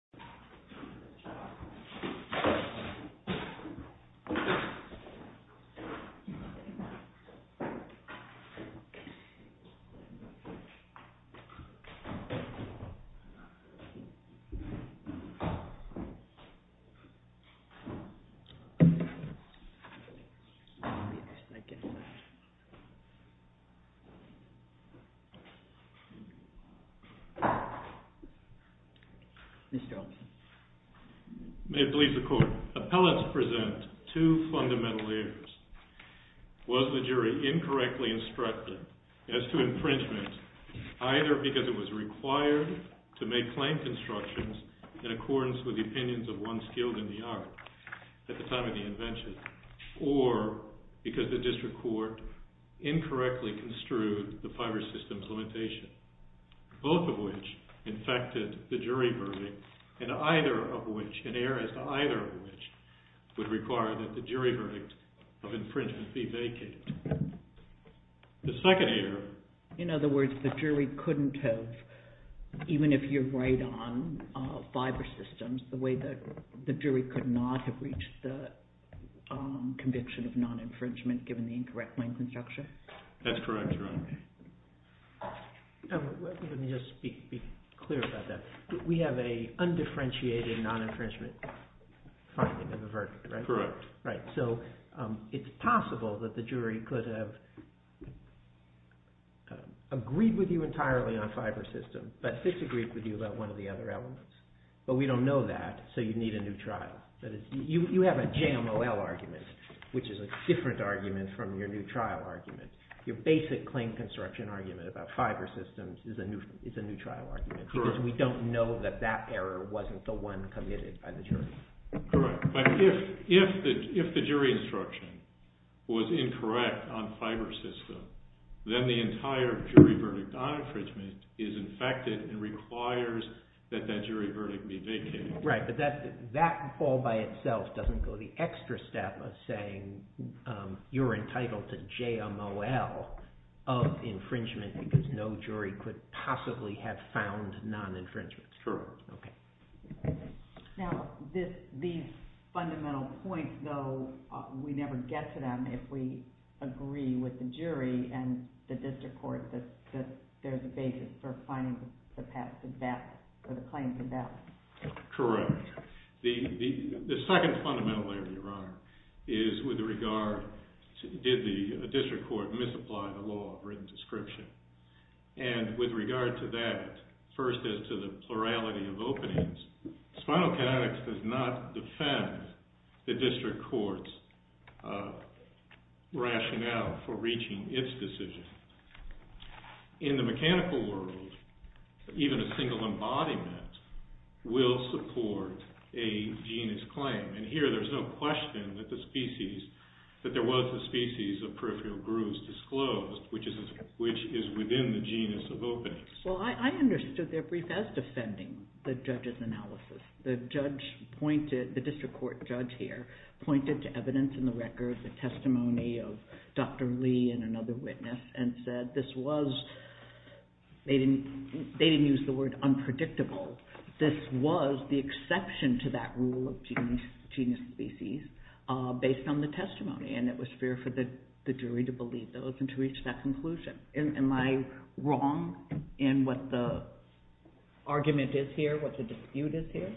Satsang with Mooji Satsang with Mooji Satsang with Mooji Appellants present two fundamental errors. Was the jury incorrectly instructed as to infringement, either because it was required to make claim constructions in accordance with the opinions of one skilled in the art at the time of the invention, or because the district court incorrectly construed the Fiverr system's limitation, both of which infected the jury verdict, and either of which, an error as to either of which, would require that the jury verdict of infringement be vacated. The second error... In other words, the jury couldn't have, even if you're right on Fiverr systems, the jury could not have reached the conviction of non-infringement given the incorrect claim construction? That's correct. Let me just be clear about that. We have an undifferentiated non-infringement finding in the verdict, right? Correct. It's possible that the jury could have agreed with you entirely on Fiverr systems, but disagreed with you about one of the other elements. But we don't know that, so you need a new trial. You have a JMOL argument, which is a different argument from your new trial argument. Your basic claim construction argument about Fiverr systems is a new trial argument, because we don't know that that error wasn't the one committed by the jury. Correct. But if the jury instruction was incorrect on Fiverr systems, then the entire jury verdict on infringement is infected and requires that that jury verdict be vacated. Right, but that all by itself doesn't go the extra step of saying you're entitled to JMOL of infringement because no jury could possibly have found non-infringement. Correct. Now, these fundamental points, though, we never get to them if we agree with the jury and the district court that there's a basis for finding the claims in battle. The second fundamental area, Your Honor, is with regard to did the district court misapply the law of written description. And with regard to that, first as to the plurality of openings, spinal kinetics does not defend the district court's rationale for reaching its decision. In the mechanical world, even a single embodiment will support a genus claim. And here there's no question that the species, that there was a species of peripheral grooves disclosed, which is within the genus of openings. Well, I understood their brief as defending the judge's analysis. The judge pointed, the district court judge here, pointed to evidence in the record, the testimony of Dr. Lee and another witness, and said this was, they didn't use the word unpredictable, this was the exception to that rule of genus species based on the testimony. And it was fair for the jury to believe those and to reach that conclusion. Am I wrong in what the argument is here, what the dispute is here?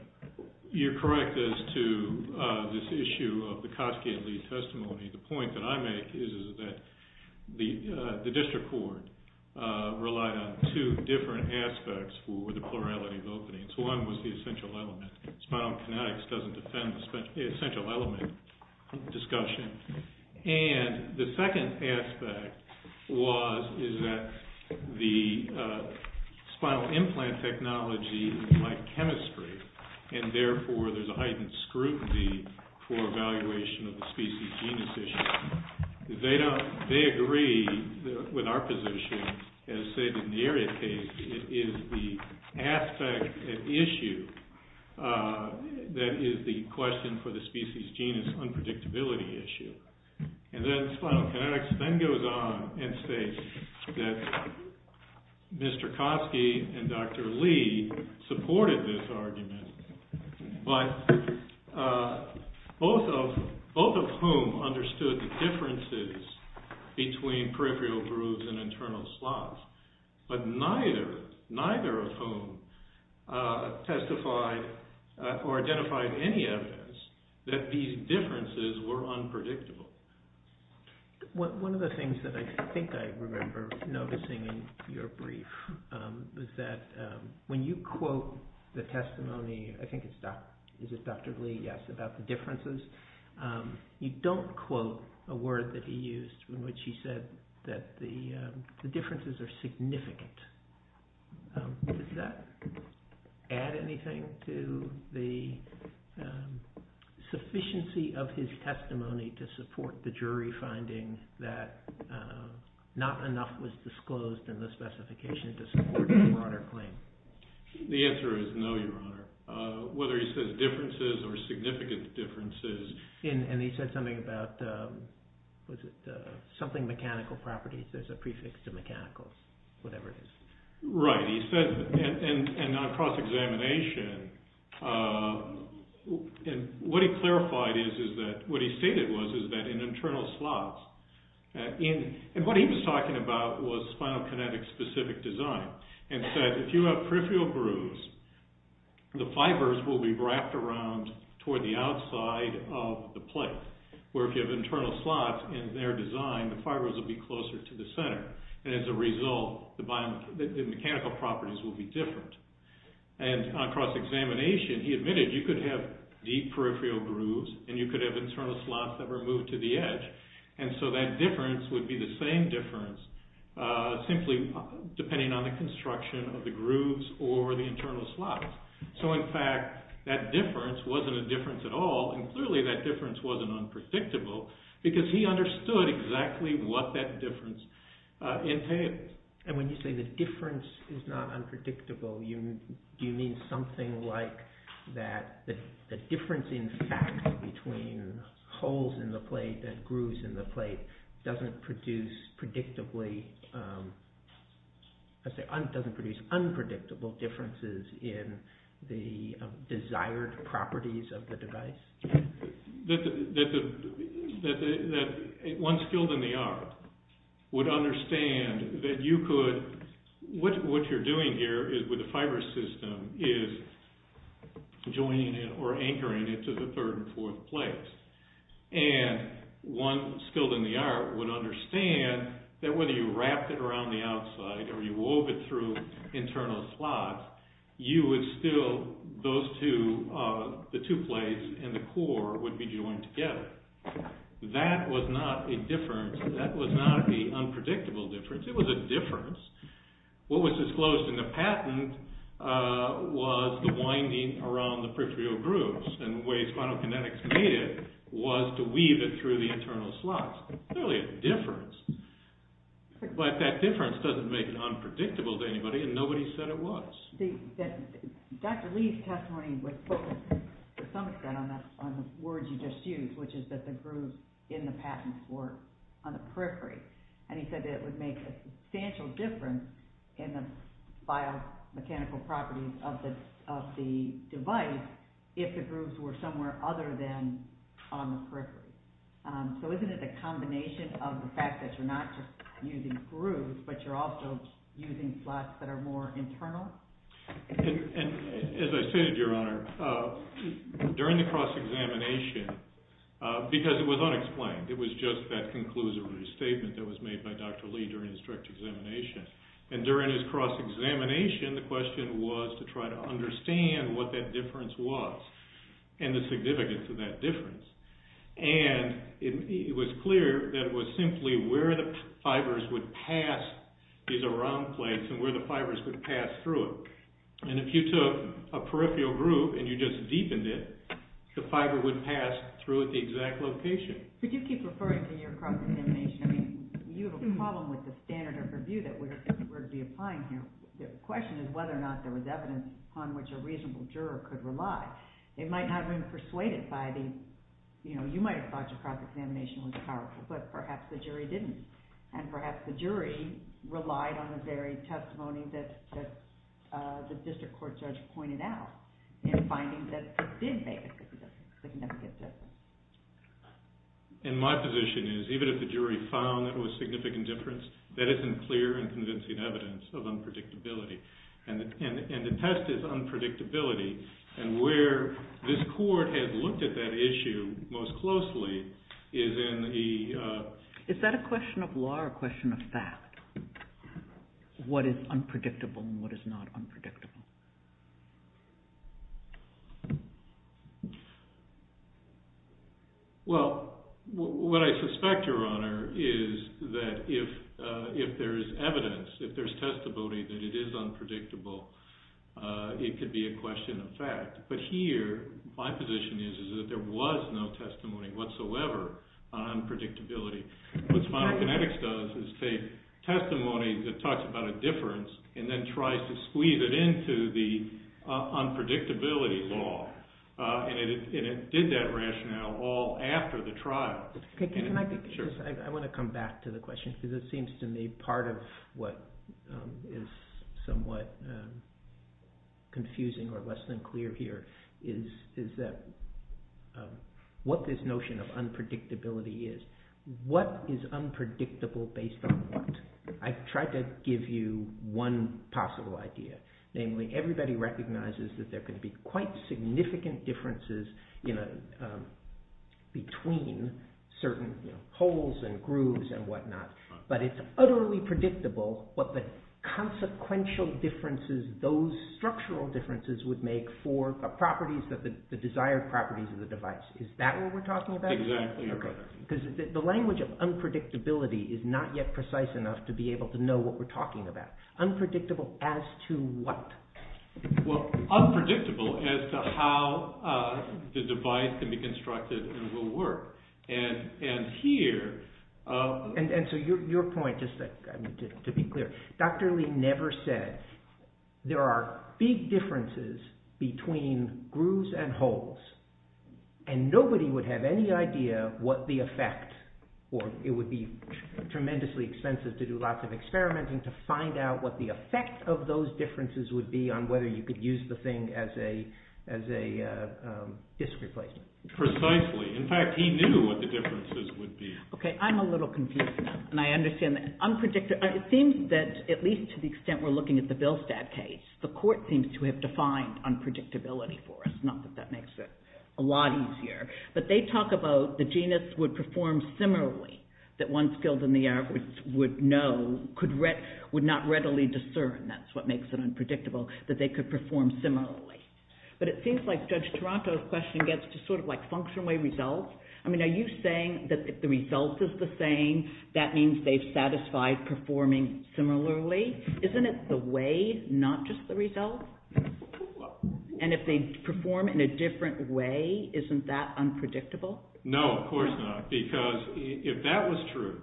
You're correct as to this issue of the Koski and Lee testimony. The point that I make is that the district court relied on two different aspects for the plurality of openings. One was the essential element. Spinal kinetics doesn't defend the essential element discussion. And the second aspect was, is that the spinal implant technology, like chemistry, and therefore there's a heightened scrutiny for evaluation of the species genus issue. They agree with our position, as stated in the area case, it is the aspect at issue that is the question for the species genus unpredictability issue. And then spinal kinetics then goes on and states that Mr. Koski and Dr. Lee supported this argument, but both of whom understood the differences between peripheral grooves and internal slots. But neither of whom testified or identified any evidence that these differences were unpredictable. One of the things that I think I remember noticing in your brief is that when you quote the testimony, I think it's Dr. Lee, yes, about the differences, you don't quote a word that he used in which he said that the differences are significant. Does that add anything to the sufficiency of his testimony to support the jury finding that not enough was disclosed in the specification to support your Honor claim? The answer is no, Your Honor. Whether he says differences or significant differences. And he said something about something mechanical properties, there's a prefix to mechanical, whatever it is. Right, he said, and on cross-examination, what he stated was that in internal slots, and what he was talking about was spinal kinetics specific design, and said if you have peripheral grooves, the fibers will be wrapped around toward the outside of the plate. Where if you have internal slots in their design, the fibers will be closer to the center. And as a result, the mechanical properties will be different. And on cross-examination, he admitted you could have deep peripheral grooves and you could have internal slots that were moved to the edge. And so that difference would be the same difference, simply depending on the construction of the grooves or the internal slots. So in fact, that difference wasn't a difference at all, and clearly that difference wasn't unpredictable, because he understood exactly what that difference entailed. And when you say the difference is not unpredictable, do you mean something like that the difference in fact between holes in the plate and grooves in the plate doesn't produce unpredictable differences in the desired properties of the device? That one skilled in the art would understand that you could, what you're doing here with the fiber system is joining it or anchoring it to the third and fourth plates. And one skilled in the art would understand that whether you wrapped it around the outside or you wove it through internal slots, you would still, those two, the two plates and the core would be joined together. That was not a difference. That was not the unpredictable difference. It was a difference. What was disclosed in the patent was the winding around the peripheral grooves and the way spinal kinetics made it was to weave it through the internal slots. Clearly a difference. But that difference doesn't make it unpredictable to anybody, and nobody said it was. Dr. Lee's testimony was focused to some extent on the words you just used, which is that the grooves in the patent were on the periphery. And he said that it would make a substantial difference in the biomechanical properties of the device if the grooves were somewhere other than on the periphery. So isn't it a combination of the fact that you're not just using grooves, but you're also using slots that are more internal? As I stated, Your Honor, during the cross-examination, because it was unexplained, it was just that conclusive restatement that was made by Dr. Lee during his direct examination. And during his cross-examination, the question was to try to understand what that difference was and the significance of that difference. And it was clear that it was simply where the fibers would pass these around plates and where the fibers would pass through it. And if you took a peripheral groove and you just deepened it, the fiber would pass through at the exact location. But you keep referring to your cross-examination. I mean, you have a problem with the standard of review that we're going to be applying here. The question is whether or not there was evidence upon which a reasonable juror could rely. They might not have been persuaded by the, you know, you might have thought your cross-examination was powerful, but perhaps the jury didn't. And perhaps the jury relied on the very testimony that the district court judge pointed out in finding that it did make a significant difference. And my position is even if the jury found that it was a significant difference, that isn't clear and convincing evidence of unpredictability. And the test is unpredictability. And where this court has looked at that issue most closely is in the... Is that a question of law or a question of fact? What is unpredictable and what is not unpredictable? Well, what I suspect, Your Honor, is that if there is evidence, if there's testimony that it is unpredictable, it could be a question of fact. But here, my position is that there was no testimony whatsoever on unpredictability. What spinal kinetics does is take testimony that talks about a difference and then tries to squeeze it into the evidence into the unpredictability law. And it did that rationale all after the trial. Can I just... I want to come back to the question because it seems to me part of what is somewhat confusing or less than clear here is that what this notion of unpredictability is, what is unpredictable based on what? I tried to give you one possible idea. Namely, everybody recognizes that there could be quite significant differences between certain holes and grooves and whatnot, but it's utterly predictable what the consequential differences, those structural differences would make for the properties, the desired properties of the device. Is that what we're talking about? Exactly. Because the language of unpredictability is not yet precise enough to be able to know what we're talking about. Unpredictable as to what? Unpredictable as to how the device can be constructed and will work. And here... And so your point, just to be clear, Dr. Lee never said there are big differences between grooves and holes and nobody would have any idea what the effect, or it would be tremendously expensive to do lots of experimenting to find out what the effect of those differences would be on whether you could use the thing as a disc replacement. Precisely. In fact, he knew what the differences would be. Okay, I'm a little confused now, and I understand that. It seems that, at least to the extent we're looking at the Bilstad case, the court seems to have defined unpredictability for us, not that that makes it a lot easier, but they talk about the genus would perform similarly that one skilled in the art would not readily discern, that's what makes it unpredictable, that they could perform similarly. But it seems like Judge Toronto's question gets to function-way results. I mean, are you saying that if the result is the same, that means they've satisfied performing similarly? Isn't it the way, not just the result? And if they perform in a different way, isn't that unpredictable? No, of course not, because if that was true,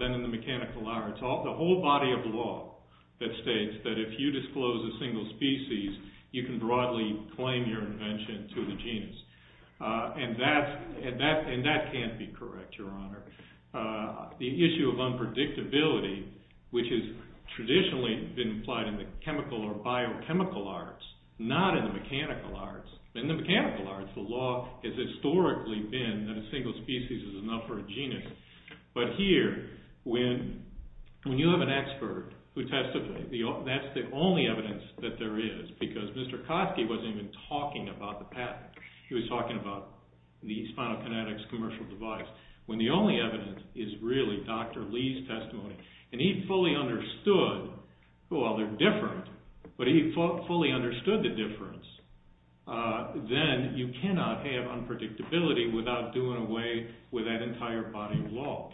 then in the mechanical arts, the whole body of law that states that if you disclose a single species, you can broadly claim your invention to the genus. And that can't be correct, Your Honor. The issue of unpredictability, which has traditionally been applied in the chemical or biochemical arts, not in the mechanical arts. In the mechanical arts, the law has historically been that a single species is enough for a genus. But here, when you have an expert who testifies, that's the only evidence that there is, because Mr. Kosky wasn't even talking about the patent. He was talking about the spinal kinetics commercial device, when the only evidence is really Dr. Lee's testimony. And he fully understood, well, they're different, but he fully understood the difference. Then you cannot have unpredictability without doing away with that entire body of law.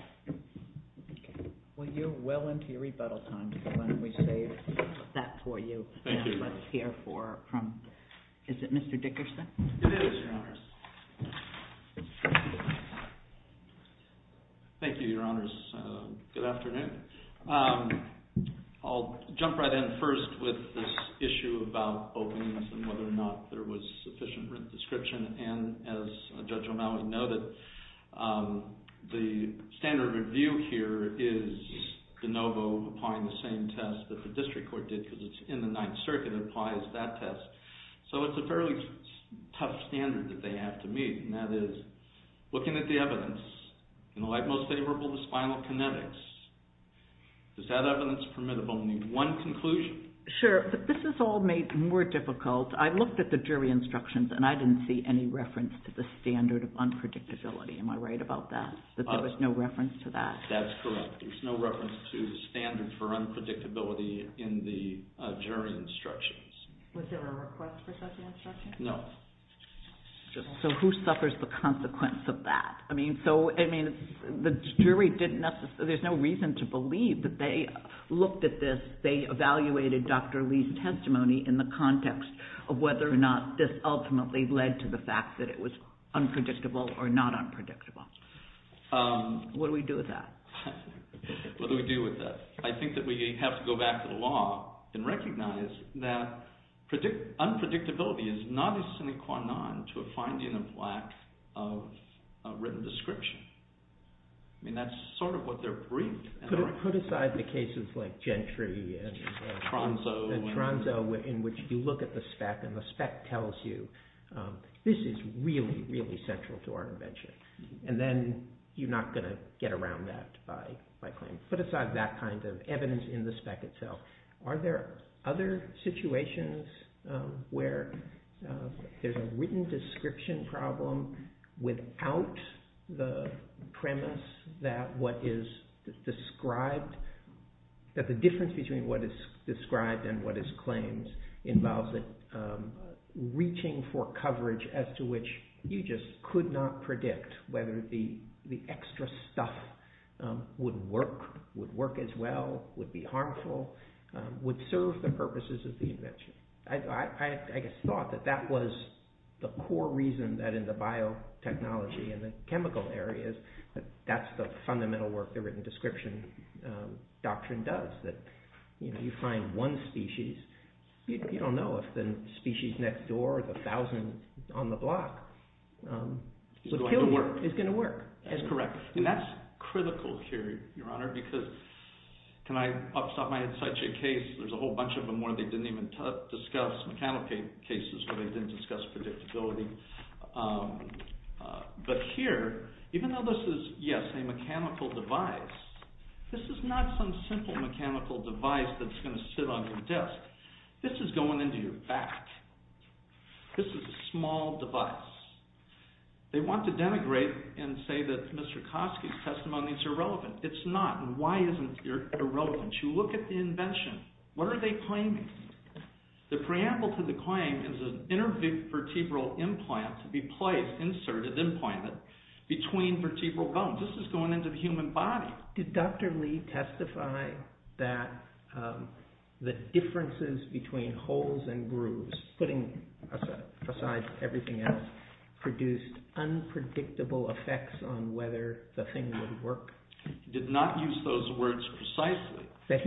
Well, you're well into your rebuttal time, so why don't we save that for you. Thank you, Your Honor. And let's hear from, is it Mr. Dickerson? It is, Your Honor. Thank you, Your Honors. Good afternoon. I'll jump right in first with this issue about openings and whether or not there was sufficient written description. And as Judge O'Malley noted, the standard review here is De Novo applying the same test that the District Court did, because it's in the Ninth Circuit, it applies that test. So it's a fairly tough standard that they have to meet, and that is, looking at the evidence, in the light most favorable to spinal kinetics, does that evidence permit of only one conclusion? Sure, but this is all made more difficult. I looked at the jury instructions, and I didn't see any reference to the standard of unpredictability. Am I right about that, that there was no reference to that? That's correct. There's no reference to the standard for unpredictability in the jury instructions. Was there a request for such instructions? No. So who suffers the consequence of that? I mean, the jury didn't necessarily, there's no reason to believe that they looked at this, they evaluated Dr. Lee's testimony in the context of whether or not this ultimately led to the fact that it was unpredictable or not unpredictable. What do we do with that? What do we do with that? I think that we have to go back to the law and recognize that unpredictability is not a sine qua non to a finding of lack of written description. I mean, that's sort of what they're briefed. Put aside the cases like Gentry and Tronzo, in which you look at the spec and the spec tells you, this is really, really central to our invention, and then you're not going to get around that by claim. Put aside that kind of evidence in the spec itself. Are there other situations where there's a written description problem without the premise that what is described, that the difference between what is described and what is claimed involves reaching for coverage as to which you just could not predict whether the extra stuff would work, would work as well, would be harmful, would serve the purposes of the invention. I thought that that was the core reason that in the biotechnology and the chemical areas that that's the fundamental work the written description doctrine does, that you find one species, you don't know if the species next door is worth a thousand on the block. So kill me is going to work. That's correct. And that's critical here, Your Honor, because I had such a case, there's a whole bunch of them where they didn't even discuss mechanical cases, but they did discuss predictability. But here, even though this is, yes, a mechanical device, this is not some simple mechanical device that's going to sit on your desk. This is going into your back. This is a small device. They want to denigrate and say that Mr. Kosky's testimony is irrelevant. It's not, and why isn't it irrelevant? You look at the invention. What are they claiming? The preamble to the claim is an intervertebral implant to be placed, inserted, implanted, between vertebral bones. This is going into the human body. Did Dr. Lee testify that the differences between holes and grooves, putting aside everything else, produced unpredictable effects on whether the thing would work? He did not use those words precisely. So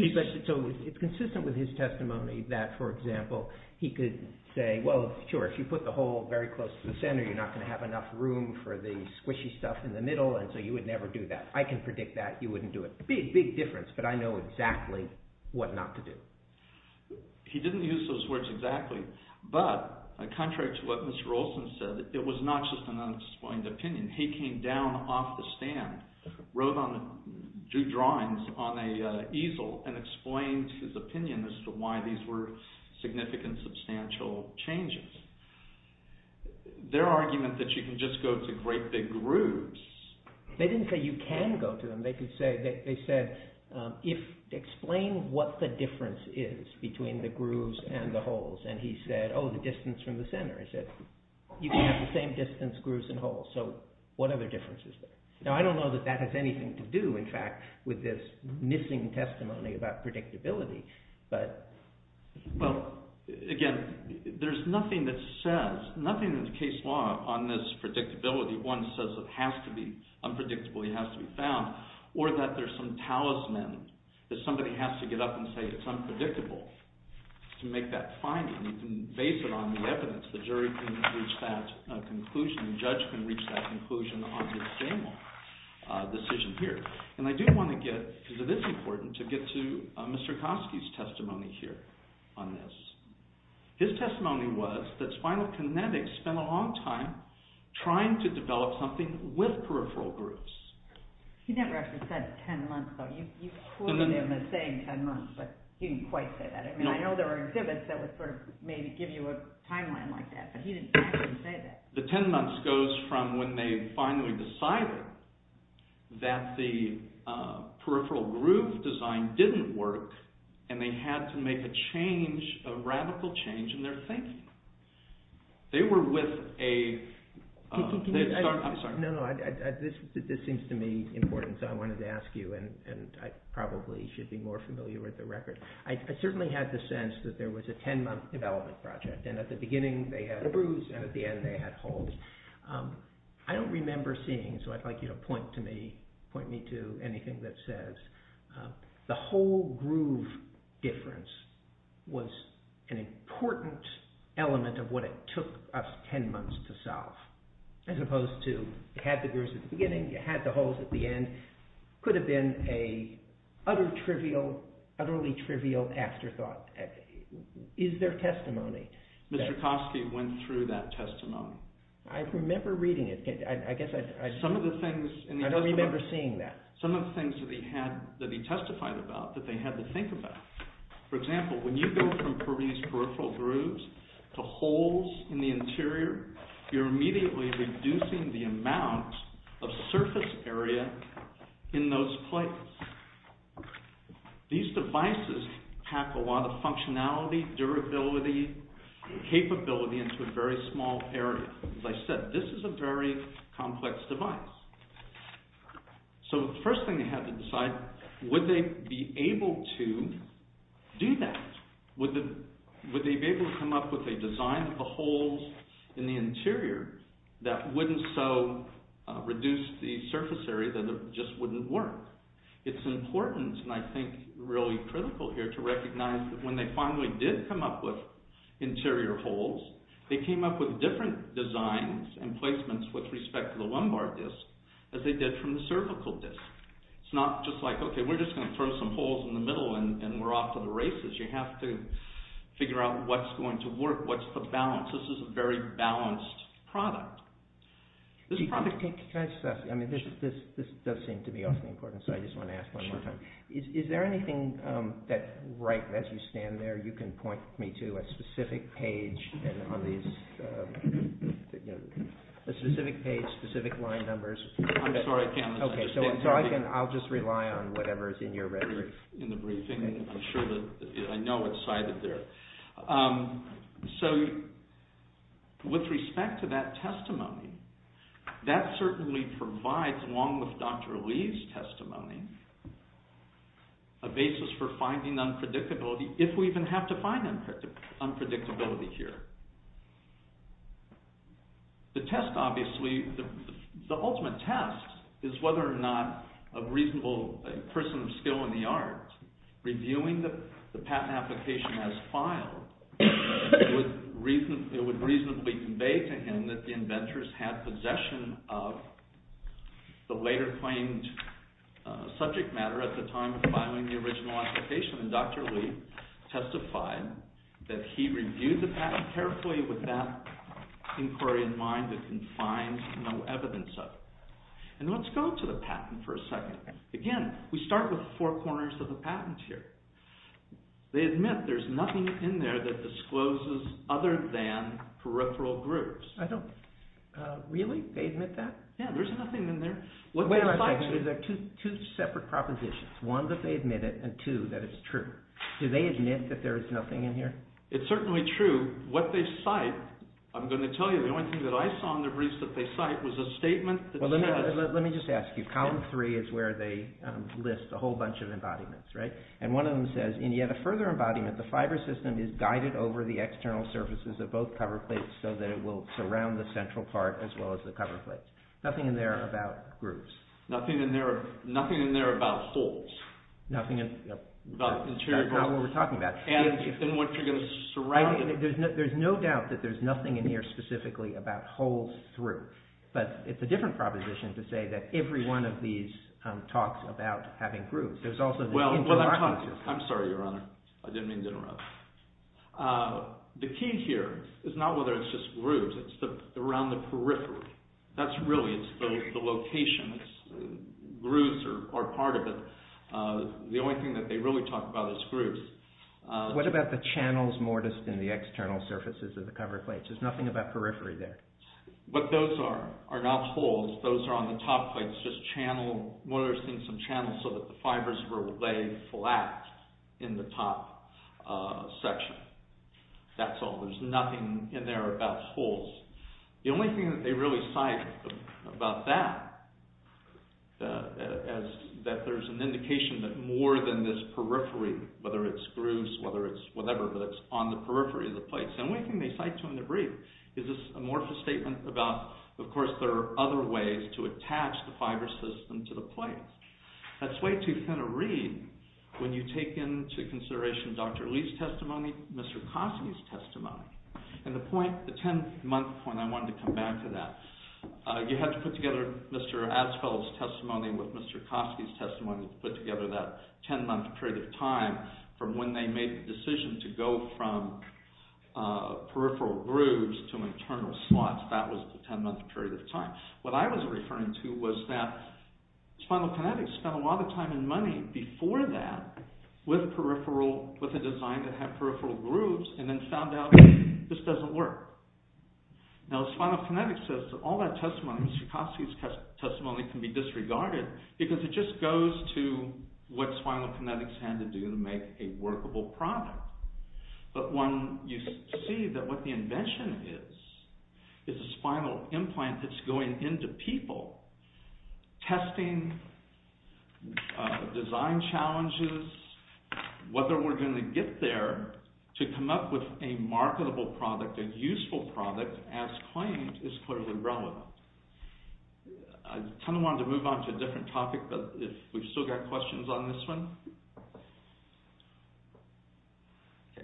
it's consistent with his testimony that, for example, he could say, well, sure, if you put the hole very close to the center, you're not going to have enough room for the squishy stuff in the middle, and so you would never do that. I can predict that you wouldn't do it. Big difference, but I know exactly what not to do. He didn't use those words exactly, but contrary to what Mr. Olson said, it was not just an unexplained opinion. He came down off the stand, drew drawings on an easel, and explained his opinion as to why these were significant, substantial changes. Their argument that you can just go to great big grooves... They didn't say you can go to them. They said, explain what the difference is between the grooves and the holes, and he said, oh, the distance from the center. He said, you can have the same distance, grooves, and holes, so what other difference is there? Now, I don't know that that has anything to do, in fact, with this missing testimony about predictability, but... Well, again, there's nothing that says, nothing in the case law on this predictability. One says it has to be unpredictable. It has to be found, or that there's some talisman that somebody has to get up and say it's unpredictable to make that finding. You can base it on the evidence. The jury can reach that conclusion. The judge can reach that conclusion on his general decision here, and I do want to get, because it is important, to get to Mr. Kosky's testimony here on this. His testimony was that Spinal Kinetics spent a long time trying to develop something with peripheral grooves. He never actually said 10 months, though. You quoted him as saying 10 months, but he didn't quite say that. I mean, I know there were exhibits that would sort of maybe give you a timeline like that, but he didn't actually say that. The 10 months goes from when they finally decided that the peripheral groove design didn't work, and they had to make a change, a radical change in their thinking. They were with a... I'm sorry. No, no, this seems to me important, so I wanted to ask you, and I probably should be more familiar with the record. I certainly had the sense that there was a 10-month development project, and at the beginning they had a bruise, and at the end they had holes. I don't remember seeing, so I'd like you to point to me, point me to anything that says the whole groove difference was an important element of what it took us 10 months to solve, as opposed to you had the grooves at the beginning, you had the holes at the end. It could have been an utterly trivial afterthought. Is there testimony that... I remember reading it. I guess I... Some of the things... I don't remember seeing that. Some of the things that he testified about that they had to think about. For example, when you go from these peripheral grooves to holes in the interior, you're immediately reducing the amount of surface area in those places. These devices pack a lot of functionality, durability, capability into a very small area. As I said, this is a very complex device. So the first thing they had to decide, would they be able to do that? Would they be able to come up with a design of the holes in the interior that wouldn't so reduce the surface area that it just wouldn't work? It's important, and I think really critical here, to recognize that when they finally did come up with interior holes, they came up with different designs and placements with respect to the lumbar disc as they did from the cervical disc. It's not just like, okay, we're just going to throw some holes in the middle and we're off to the races. You have to figure out what's going to work, what's the balance. This is a very balanced product. This product... Can I just ask? I mean, this does seem to be awfully important, so I just want to ask one more time. Is there anything that, right as you stand there, you can point me to a specific page on these... A specific page, specific line numbers? I'm sorry, Kevin. Okay, so I'll just rely on whatever is in your record. In the briefing. I'm sure that I know what's cited there. So, with respect to that testimony, that certainly provides, along with Dr. Lee's testimony, a basis for finding unpredictability, if we even have to find unpredictability here. The test, obviously, the ultimate test is whether or not a reasonable person of skill in the arts, reviewing the patent application as filed, it would reasonably convey to him that the inventors had possession of the later claimed subject matter at the time of filing the original application, and Dr. Lee testified that he reviewed the patent carefully with that inquiry in mind that confines no evidence of it. And let's go to the patent for a second. Again, we start with the four corners of the patent here. They admit there's nothing in there that discloses other than peripheral grooves. I don't, really, they admit that? Yeah, there's nothing in there. Wait a minute, there's two separate propositions. One, that they admit it, and two, that it's true. Do they admit that there is nothing in here? It's certainly true. What they cite, I'm going to tell you, the only thing that I saw in the briefs that they cite was a statement that says... Well, let me just ask you. Column three is where they list a whole bunch of embodiments, right? And one of them says, in yet a further embodiment, the fiber system is guided over the external surfaces of both cover plates so that it will surround the central part as well as the cover plates. Nothing in there about grooves. Nothing in there about holes. Nothing in... About interior holes. That's not what we're talking about. And then what you're going to surround... There's no doubt that there's nothing in here specifically about holes through. But it's a different proposition to say that every one of these talks about having grooves. There's also the interlocking... I'm sorry, Your Honor. I didn't mean to interrupt. The key here is not whether it's just grooves. It's around the periphery. That's really... It's the location. Grooves are part of it. The only thing that they really talk about is grooves. What about the channels mortised in the external surfaces of the cover plates? There's nothing about periphery there. What those are are not holes. Those are on the top plates, just channel... Mortising some channels so that the fibres were laid flat in the top section. That's all. There's nothing in there about holes. The only thing that they really cite about that is that there's an indication that more than this periphery, whether it's grooves, whether it's whatever, but it's on the periphery of the plates. The only thing they cite to in the brief is this amorphous statement about, of course, there are other ways to attach the fibre system to the plates. That's way too thin a reed when you take into consideration Dr. Lee's testimony, Mr. Kosky's testimony, and the point, the 10-month point, I wanted to come back to that. You have to put together Mr. Asphalt's testimony with Mr. Kosky's testimony to put together that 10-month period of time from when they made the decision to go from peripheral grooves to internal slots. That was the 10-month period of time. What I was referring to was that spinal kinetics spent a lot of time and money before that with a design that had peripheral grooves and then found out this doesn't work. Now, spinal kinetics says that all that testimony, Mr. Kosky's testimony, can be disregarded because it just goes to what spinal kinetics had to do to make a workable product. But when you see that what the invention is is a spinal implant that's going into people, testing, design challenges, whether we're going to get there to come up with a marketable product, a useful product, as claimed, is clearly relevant. I kind of wanted to move on to a different topic, but we've still got questions on this one. Okay.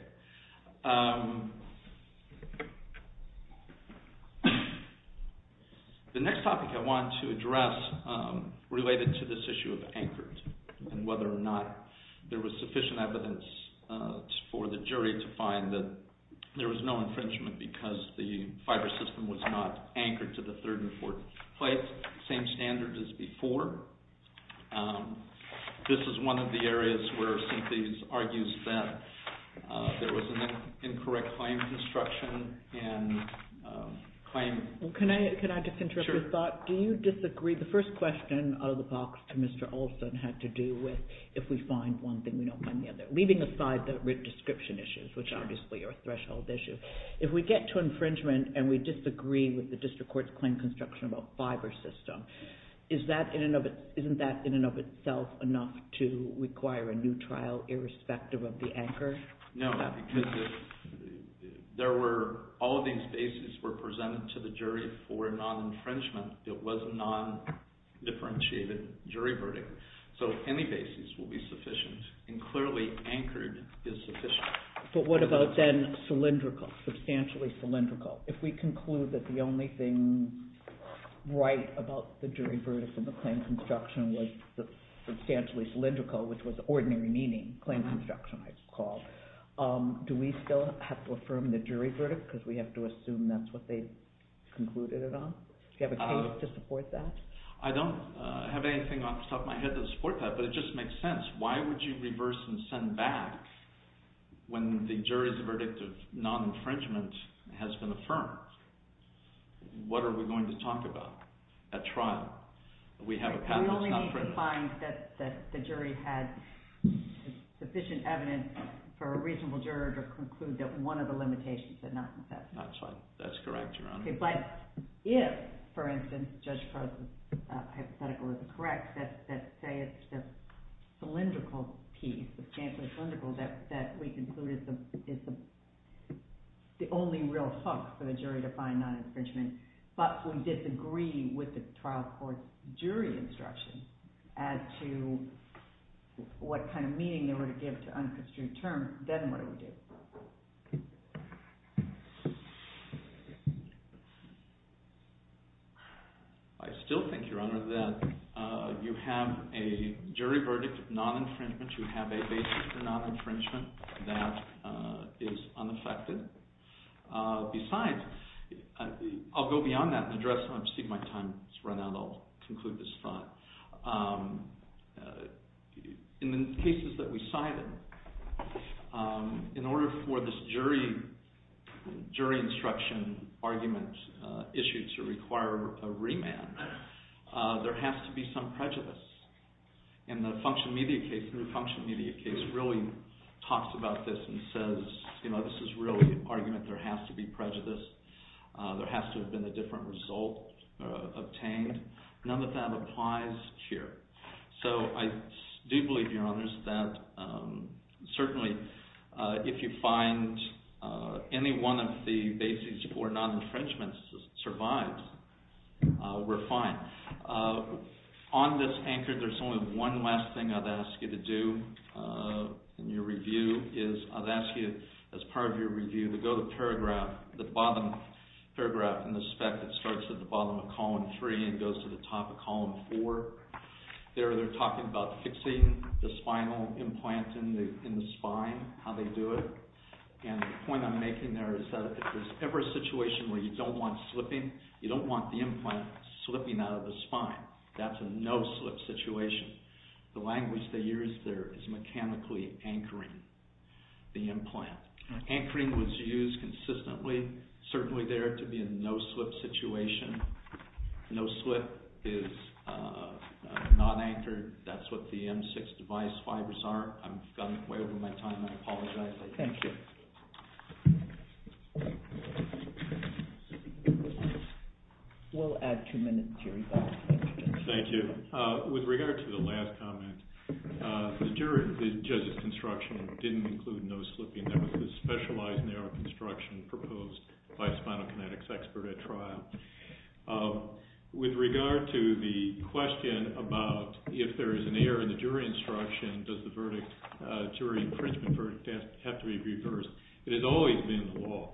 The next topic I want to address related to this issue of anchored and whether or not there was sufficient evidence for the jury to find that there was no infringement because the fiber system was not anchored to the third and fourth place. Same standard as before. This is one of the areas where Cynthia argues that there was an incorrect claim construction and claim... Can I just interrupt your thought? Sure. Do you disagree? The first question out of the box to Mr. Olson had to do with if we find one thing, we don't find the other. Leaving aside the description issues, which obviously are threshold issues. If we get to infringement and we disagree with the district court's claim construction about fiber system, isn't that in and of itself enough to require a new trial irrespective of the anchor? No, because all of these bases were presented to the jury for non-infringement. It was a non-differentiated jury verdict. So any basis will be sufficient. And clearly anchored is sufficient. But what about then cylindrical, substantially cylindrical? If we conclude that the only thing right about the jury verdict in the claim construction was substantially cylindrical, which was ordinary meaning, claim construction, I recall, do we still have to affirm the jury verdict because we have to assume that's what they concluded it on? Do you have a case to support that? I don't have anything off the top of my head to support that, but it just makes sense. Why would you reverse and send back when the jury's verdict of non-infringement has been affirmed? What are we going to talk about at trial? We have a patent. We only need to find that the jury had sufficient evidence for a reasonable juror to conclude that one of the limitations had not been set. That's right. That's correct, Your Honor. But if, for instance, Judge Crow's hypothetical is correct, that say it's the cylindrical piece, the substantially cylindrical that we concluded is the only real hook for the jury to find non-infringement, but we disagree with the trial court's jury instruction as to what kind of meaning they were to give to unconstrued terms, then what do we do? I still think, Your Honor, that you have a jury verdict of non-infringement. You have a basis for non-infringement that is unaffected. Besides, I'll go beyond that and address... I'm sorry, my time has run out. I'll conclude this thought. In the cases that we cited, in order for this jury instruction argument issued to require a remand, there has to be some prejudice. In the function media case, the function media case really talks about this and says this is really an argument there has to be prejudice. There has to have been a different result obtained. None of that applies here. So I do believe, Your Honor, that certainly if you find any one of the basis for non-infringement survives, we're fine. On this anchor, there's only one last thing I'd ask you to do in your review. I'd ask you, as part of your review, to go to the bottom paragraph in the spec that starts at the bottom of column 3 and goes to the top of column 4. There, they're talking about fixing the spinal implant in the spine, how they do it, and the point I'm making there is that if there's ever a situation where you don't want slipping, you don't want the implant slipping out of the spine. That's a no-slip situation. The language they use there is mechanically anchoring the implant. Anchoring was used consistently, certainly there to be a no-slip situation. No-slip is non-anchored. That's what the M6 device fibers are. I've gone way over my time. I apologize. Thank you. We'll add two minutes, Jerry. Thank you. With regard to the last comment, the judge's instruction didn't include no slipping. That was a specialized narrow construction proposed by a spinal kinetics expert at trial. With regard to the question about if there is an error in the jury instruction, does the jury infringement verdict have to be reversed, it has always been the law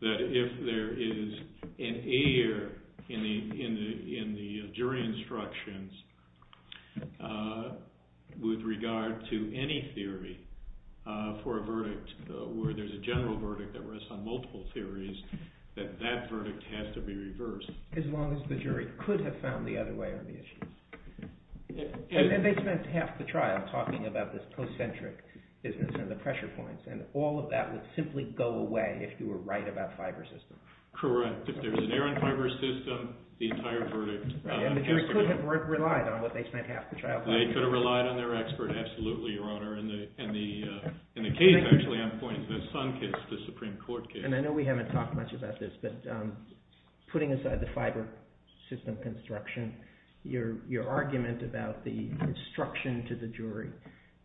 that if there is an error in the jury instruction, with regard to any theory for a verdict, where there's a general verdict that rests on multiple theories, that that verdict has to be reversed. As long as the jury could have found the other way around the issue. And then they spent half the trial talking about this concentric business and the pressure points, and all of that would simply go away if you were right about fiber system. If there's an error in fiber system, the entire verdict has to be reversed. And the jury could have relied on what they spent half the trial talking about. They could have relied on their expert, absolutely, Your Honor. In the case, actually, I'm pointing to the Sunkist, the Supreme Court case. And I know we haven't talked much about this, but putting aside the fiber system construction, your argument about the instruction to the jury,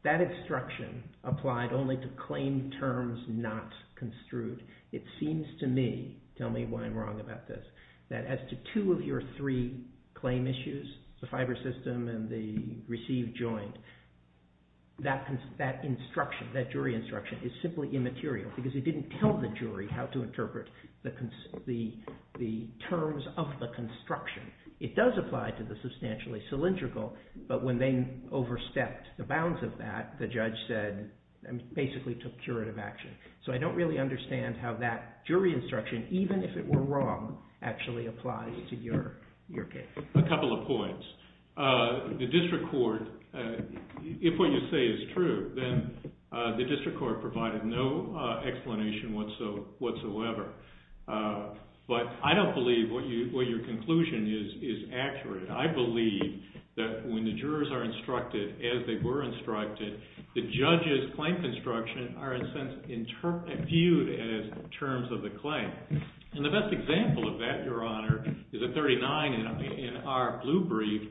that instruction applied only to claim terms not construed. It seems to me, tell me why I'm wrong about this, that as to two of your three claim issues, the fiber system and the received joint, that jury instruction is simply immaterial, because it didn't tell the jury how to interpret the terms of the construction. It does apply to the substantially cylindrical, but when they overstepped the bounds of that, the judge basically took curative action. So I don't really understand how that jury instruction, even if it were wrong, actually applies to your case. A couple of points. The district court, if what you say is true, then the district court provided no explanation whatsoever. But I don't believe what your conclusion is accurate. I believe that when the jurors are instructed as they were instructed, the judge's claim construction are, in a sense, viewed as terms of the claim. And the best example of that, Your Honor, is at 39 in our blue brief,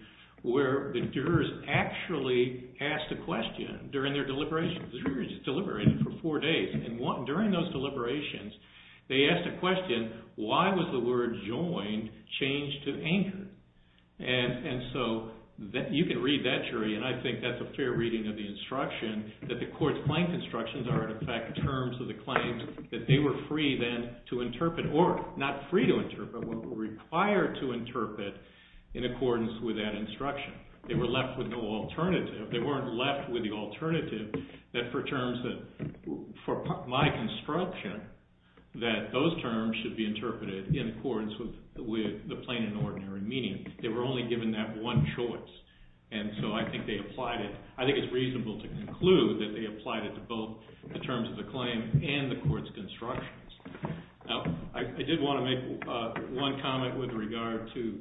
where the jurors actually asked a question during their deliberations. The jurors deliberated for four days, and during those deliberations they asked a question, why was the word joined changed to anchor? And so you can read that, jury, and I think that's a fair reading of the instruction, that the court's claim constructions are, in effect, terms of the claims that they were free then to interpret, or not free to interpret, but required to interpret in accordance with that instruction. They were left with no alternative. They weren't left with the alternative that for terms that, for my construction, that those terms should be interpreted in accordance with the plain and ordinary meaning. They were only given that one choice. And so I think they applied it. I think it's reasonable to conclude that they applied it to both the terms of the claim and the court's constructions. Now, I did want to make one comment with regard to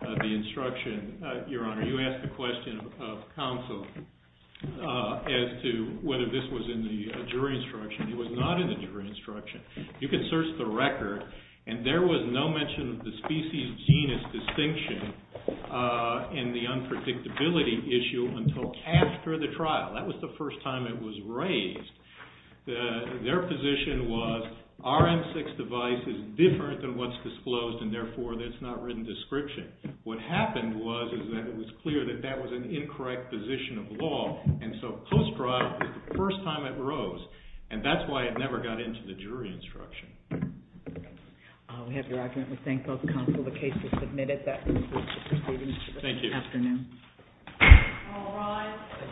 the instruction, Your Honor. You asked a question of counsel as to whether this was in the jury instruction. It was not in the jury instruction. You can search the record, and there was no mention of the species genus distinction in the unpredictability issue until after the trial. That was the first time it was raised. Their position was, our M6 device is different than what's disclosed, and therefore, that's not written description. What happened was that it was clear that that was an incorrect position of law, and so post-trial, the first time it rose, and that's why it never got into the jury instruction. We have your argument. We thank both counsel. The case is submitted. Thank you. Afternoon. All rise.